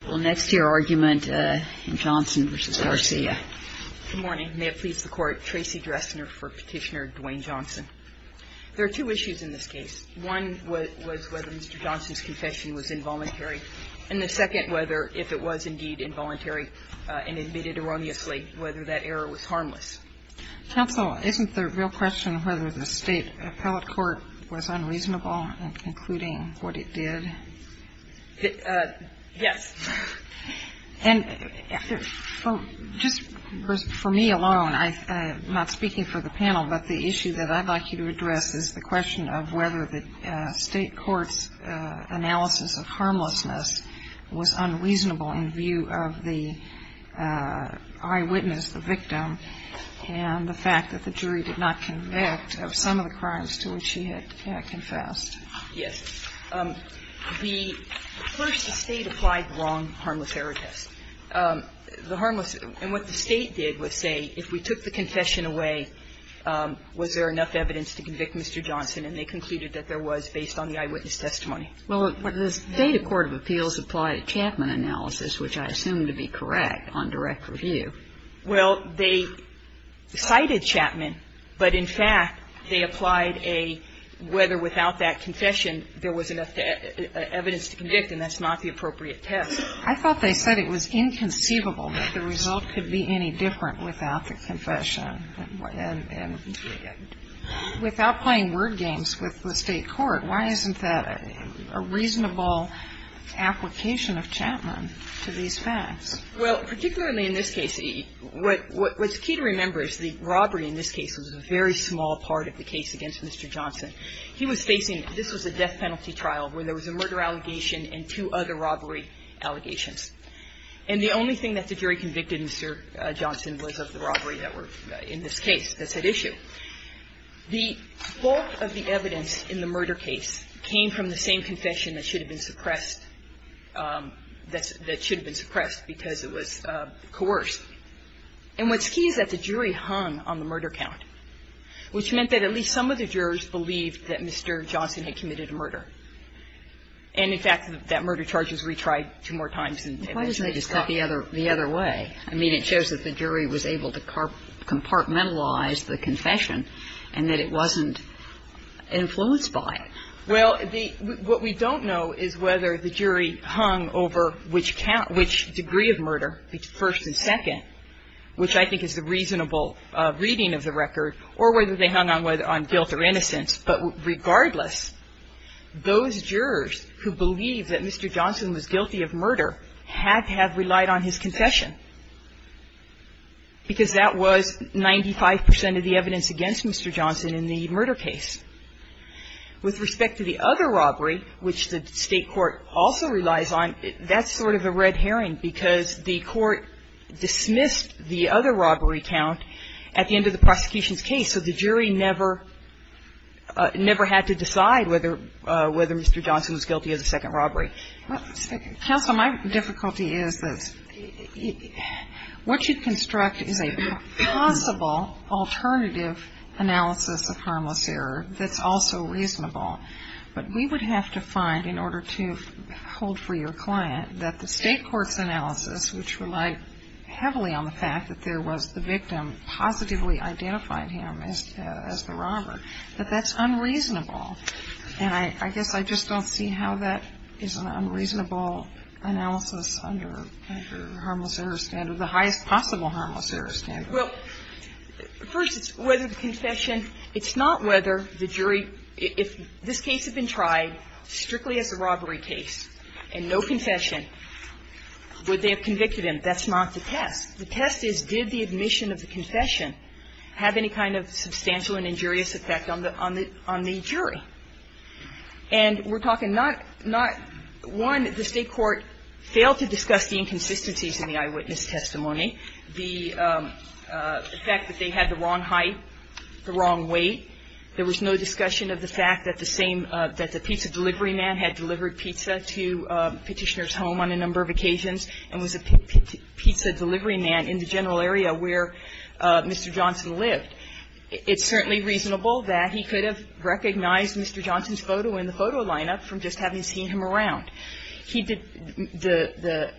Good morning. May it please the Court, Tracy Dressner for Petitioner Dwayne Johnson. There are two issues in this case. One was whether Mr. Johnson's confession was involuntary, and the second whether, if it was indeed involuntary and admitted erroneously, whether that error was harmless. Counsel, isn't the real question whether the State Appellate Court was unreasonable in concluding what it did? Yes. And just for me alone, I'm not speaking for the panel, but the issue that I'd like you to address is the question of whether the State Court's analysis of harmlessness was unreasonable in view of the eyewitness, the victim, and the fact that the jury did not convict of some of the crimes to which he had confessed. Yes. The first, the State applied the wrong harmless error test. The harmless error test. And what the State did was say, if we took the confession away, was there enough evidence to convict Mr. Johnson? And they concluded that there was, based on the eyewitness testimony. Well, the State court of appeals applied a Chapman analysis, which I assume to be correct, on direct review. Well, they cited Chapman, but, in fact, they applied a whether without that confession there was enough evidence to convict, and that's not the appropriate test. I thought they said it was inconceivable that the result could be any different without the confession and without playing word games with the State court. Why isn't that a reasonable application of Chapman to these facts? Well, particularly in this case, what's key to remember is the robbery in this case was a very small part of the case against Mr. Johnson. He was facing, this was a death penalty trial, where there was a murder allegation and two other robbery allegations. And the only thing that the jury convicted Mr. Johnson was of the robbery that were in this case that's at issue. The bulk of the evidence in the murder case came from the same confession that should allegation in this case, because it was coerced. And what's key is that the jury hung on the murder count, which meant that at least some of the jurors believed that Mr. Johnson had committed a murder. And, in fact, that murder charge was retried two more times. Why doesn't that just cut the other way? I mean, it shows that the jury was able to compartmentalize the confession and that it wasn't influenced by it. Well, what we don't know is whether the jury hung over which count, which degree of murder, the first and second, which I think is the reasonable reading of the record, or whether they hung on guilt or innocence. But regardless, those jurors who believe that Mr. Johnson was guilty of murder had to have relied on his confession, because that was 95 percent of the evidence against Mr. Johnson in the murder case. With respect to the other robbery, which the State court also relies on, that's sort of a red herring, because the court dismissed the other robbery count at the end of the prosecution's case. So the jury never had to decide whether Mr. Johnson was guilty of the second robbery. Counsel, my difficulty is that what you construct is a possible alternative analysis of harmless error that's also reasonable. But we would have to find, in order to hold for your client, that the State court's analysis, which relied heavily on the fact that there was the victim positively identifying him as the robber, that that's unreasonable. And I guess I just don't see how that is an unreasonable analysis under harmless error standard, the highest possible harmless error standard. Well, first, it's whether the confession – it's not whether the jury – if this case had been tried strictly as a robbery case and no confession, would they have convicted him? That's not the test. The test is did the admission of the confession have any kind of substantial and injurious effect on the jury? And we're talking not – not – one, the State court failed to discuss the inconsistencies in the eyewitness testimony, the fact that they had the wrong height, the wrong weight. There was no discussion of the fact that the same – that the pizza delivery man had delivered pizza to Petitioner's home on a number of occasions and was a pizza delivery man in the general area where Mr. Johnson lived. And I think that it's certainly reasonable that he could have recognized Mr. Johnson's photo in the photo lineup from just having seen him around. He did – the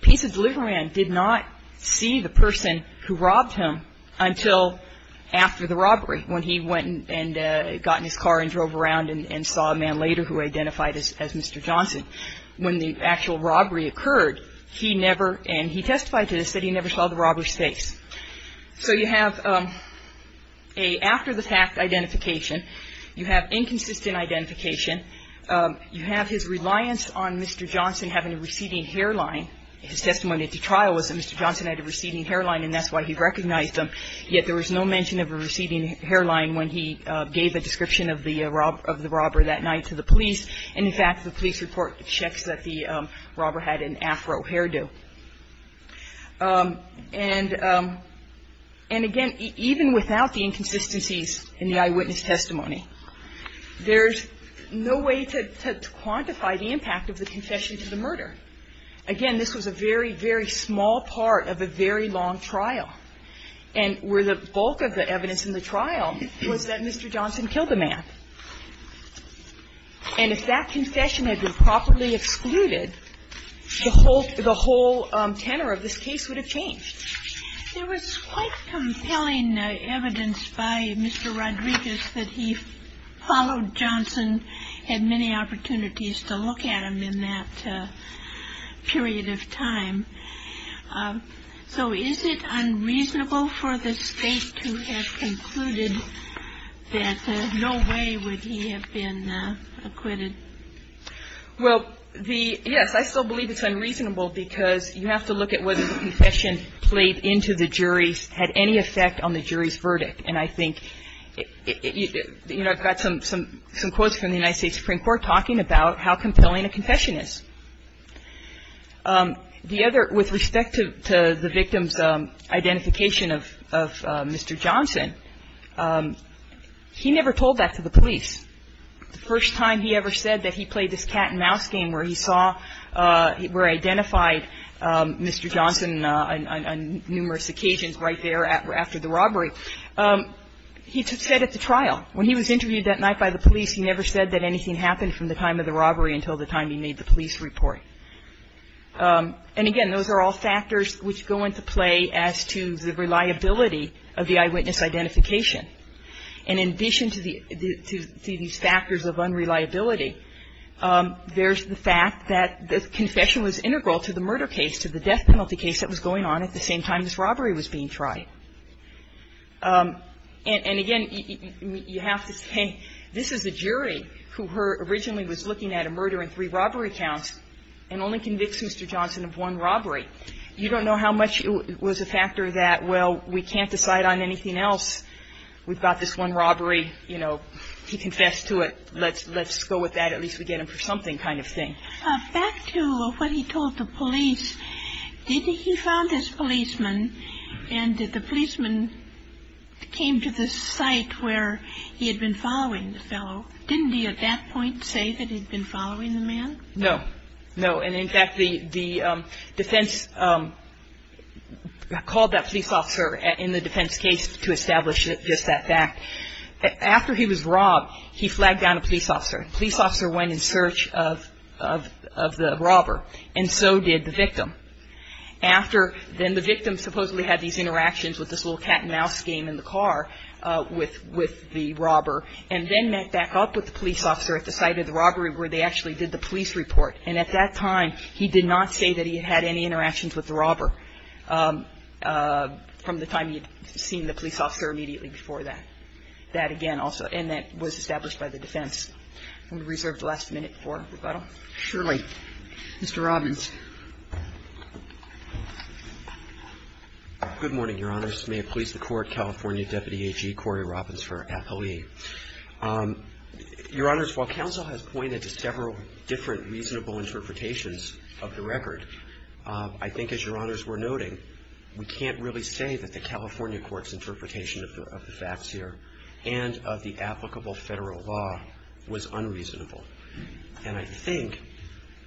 pizza delivery man did not see the person who robbed him until after the robbery, when he went and got in his car and drove around and saw a man later who identified as Mr. Johnson. When the actual robbery occurred, he never – and he testified to this – that he never saw the robber's face. So you have a – after the fact identification, you have inconsistent identification. You have his reliance on Mr. Johnson having a receding hairline. His testimony at the trial was that Mr. Johnson had a receding hairline, and that's why he recognized him. Yet there was no mention of a receding hairline when he gave a description of the robber that night to the police. And, in fact, the police report checks that the robber had an afro hairdo. And, again, even without the inconsistencies in the eyewitness testimony, there's no way to quantify the impact of the confession to the murder. Again, this was a very, very small part of a very long trial, and where the bulk of the evidence in the trial was that Mr. Johnson killed the man. And if that confession had been properly excluded, the whole – the whole tenor of this case would have changed. There was quite compelling evidence by Mr. Rodriguez that he followed Johnson, had many opportunities to look at him in that period of time. So is it unreasonable for the State to have concluded that no way would he have been acquitted? Well, the – yes, I still believe it's unreasonable, because you have to look at whether the confession played into the jury's – had any effect on the jury's verdict. And I think – you know, I've got some quotes from the United States Supreme Court talking about how compelling a confession is. The other – with respect to the victim's identification of Mr. Johnson, he never told that to the police. The first time he ever said that he played this cat-and-mouse game where he saw – where he identified Mr. Johnson on numerous occasions right there after the robbery, he said at the trial. When he was interviewed that night by the police, he never said that anything happened from the time of the robbery until the time he made the police report. And again, those are all factors which go into play as to the reliability of the eyewitness identification. And in addition to the – to these factors of unreliability, there's the fact that the confession was integral to the murder case, to the death penalty case that was going on at the same time this robbery was being tried. And again, you have to say this is the jury who originally was looking at a murder in three robbery counts and only convicts Mr. Johnson of one robbery. You don't know how much it was a factor that, well, we can't decide on anything else. We've got this one robbery. You know, he confessed to it. Let's go with that. At least we get him for something kind of thing. Back to what he told the police. He found this policeman, and the policeman came to the site where he had been following the fellow. Didn't he at that point say that he'd been following the man? No. No. And in fact, the defense called that police officer in the defense case to establish just that fact. After he was robbed, he flagged down a police officer. The police officer went in search of the robber, and so did the victim. After, then the victim supposedly had these interactions with this little cat-and-mouse game in the car with the robber, and then met back up with the police officer at the site of the robbery where they actually did the police report. And at that time, he did not say that he had any interactions with the robber from the time he had seen the police officer immediately before that. And that was established by the defense. We reserve the last minute for rebuttal. Surely. Mr. Robbins. Good morning, Your Honors. May it please the Court, California Deputy AG Corey Robbins for affilee. Your Honors, while counsel has pointed to several different reasonable interpretations of the record, I think, as Your Honors were noting, we can't really say that the California court's interpretation of the facts here and of the applicable Federal law was unreasonable. And I think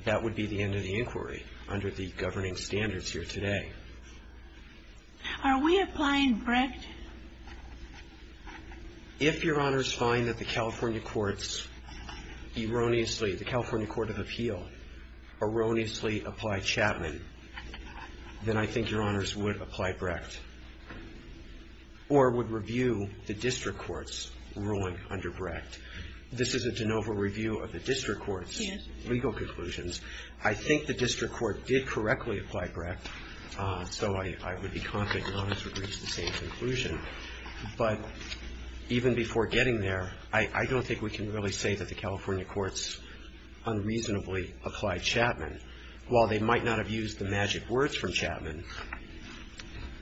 that would be the end of the inquiry under the governing standards here today. Are we applying Brecht? If Your Honors find that the California courts erroneously, the California courts erroneously apply Brecht, I think Your Honors would apply Brecht or would review the district court's ruling under Brecht. This is a de novo review of the district court's legal conclusions. I think the district court did correctly apply Brecht, so I would be confident Your Honors would reach the same conclusion. But even before getting there, I don't think we can really say that the California courts unreasonably applied Chapman. While they might not have used the magic words from Chapman,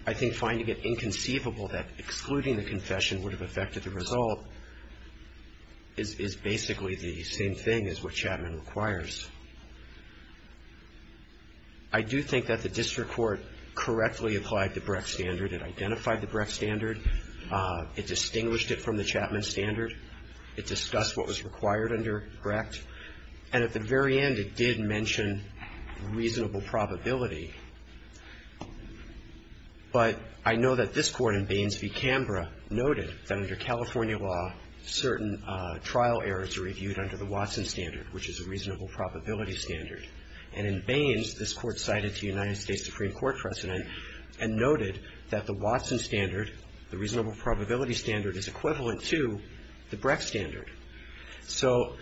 I think finding it inconceivable that excluding the confession would have affected the result is basically the same thing as what Chapman requires. I do think that the district court correctly applied the Brecht standard. It identified the Brecht standard. It distinguished it from the Chapman standard. It discussed what was required under Brecht. And at the very end, it did mention reasonable probability. But I know that this Court in Baines v. Canberra noted that under California law, certain trial errors are reviewed under the Watson standard, which is a reasonable probability standard. And in Baines, this Court cited the United States Supreme Court precedent and noted that the Watson standard, the reasonable probability standard, is equivalent to the Brecht standard. So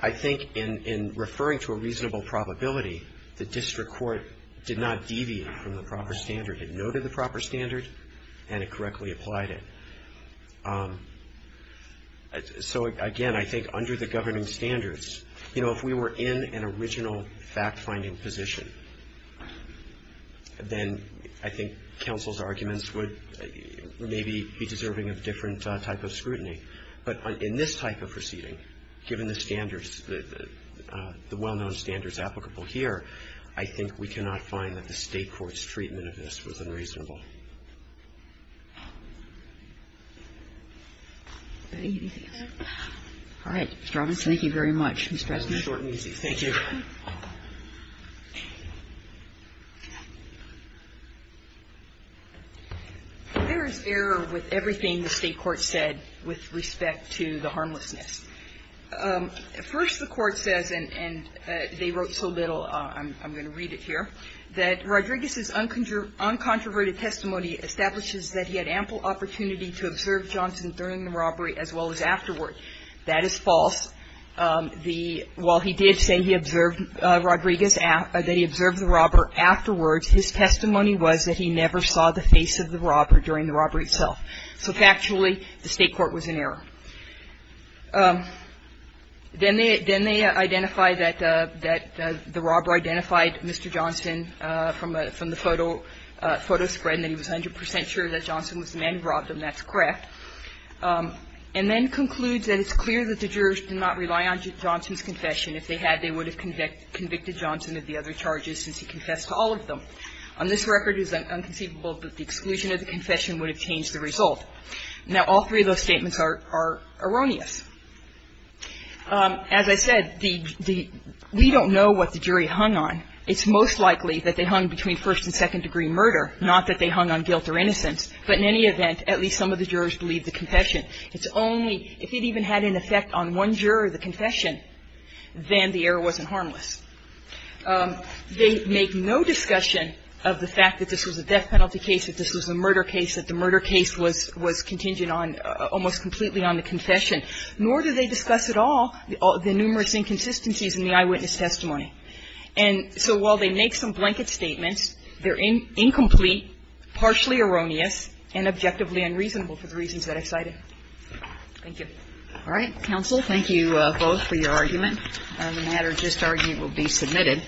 I think in referring to a reasonable probability, the district court did not deviate from the proper standard. It noted the proper standard, and it correctly applied it. So, again, I think under the governing standards, you know, if we were in an original fact-finding position, then I think counsel's arguments would maybe be deserving of different type of scrutiny. But in this type of proceeding, given the standards that the well-known standards applicable here, I think we cannot find that the State court's treatment of this was unreasonable. All right. Mr. Robinson, thank you very much. It was short and easy. Thank you. There is error with everything the State court said with respect to the harmlessness. First, the Court says, and they wrote so little, I'm going to read it here, that Rodriguez's uncontroverted testimony establishes that he had ample opportunity to observe Johnson during the robbery as well as afterward. That is false. While he did say he observed Rodriguez, that he observed the robber afterwards, his testimony was that he never saw the face of the robber during the robbery itself. So, factually, the State court was in error. Then they identify that the robber identified Mr. Johnson from the photo spread and that he was 100 percent sure that Johnson was the man who robbed him. That's correct. And then it concludes that it's clear that the jurors did not rely on Johnson's confession. If they had, they would have convicted Johnson of the other charges since he confessed to all of them. On this record, it is unconceivable that the exclusion of the confession would have changed the result. Now, all three of those statements are erroneous. As I said, the we don't know what the jury hung on. It's most likely that they hung between first and second degree murder, not that they believed the confession. It's only if it even had an effect on one juror of the confession, then the error wasn't harmless. They make no discussion of the fact that this was a death penalty case, that this was a murder case, that the murder case was contingent on almost completely on the confession, nor do they discuss at all the numerous inconsistencies in the eyewitness testimony. And so while they make some blanket statements, they're incomplete, partially erroneous, and objectively unreasonable for the reasons that I cited. Thank you. All right. Counsel, thank you both for your argument. The matter of just argument will be submitted.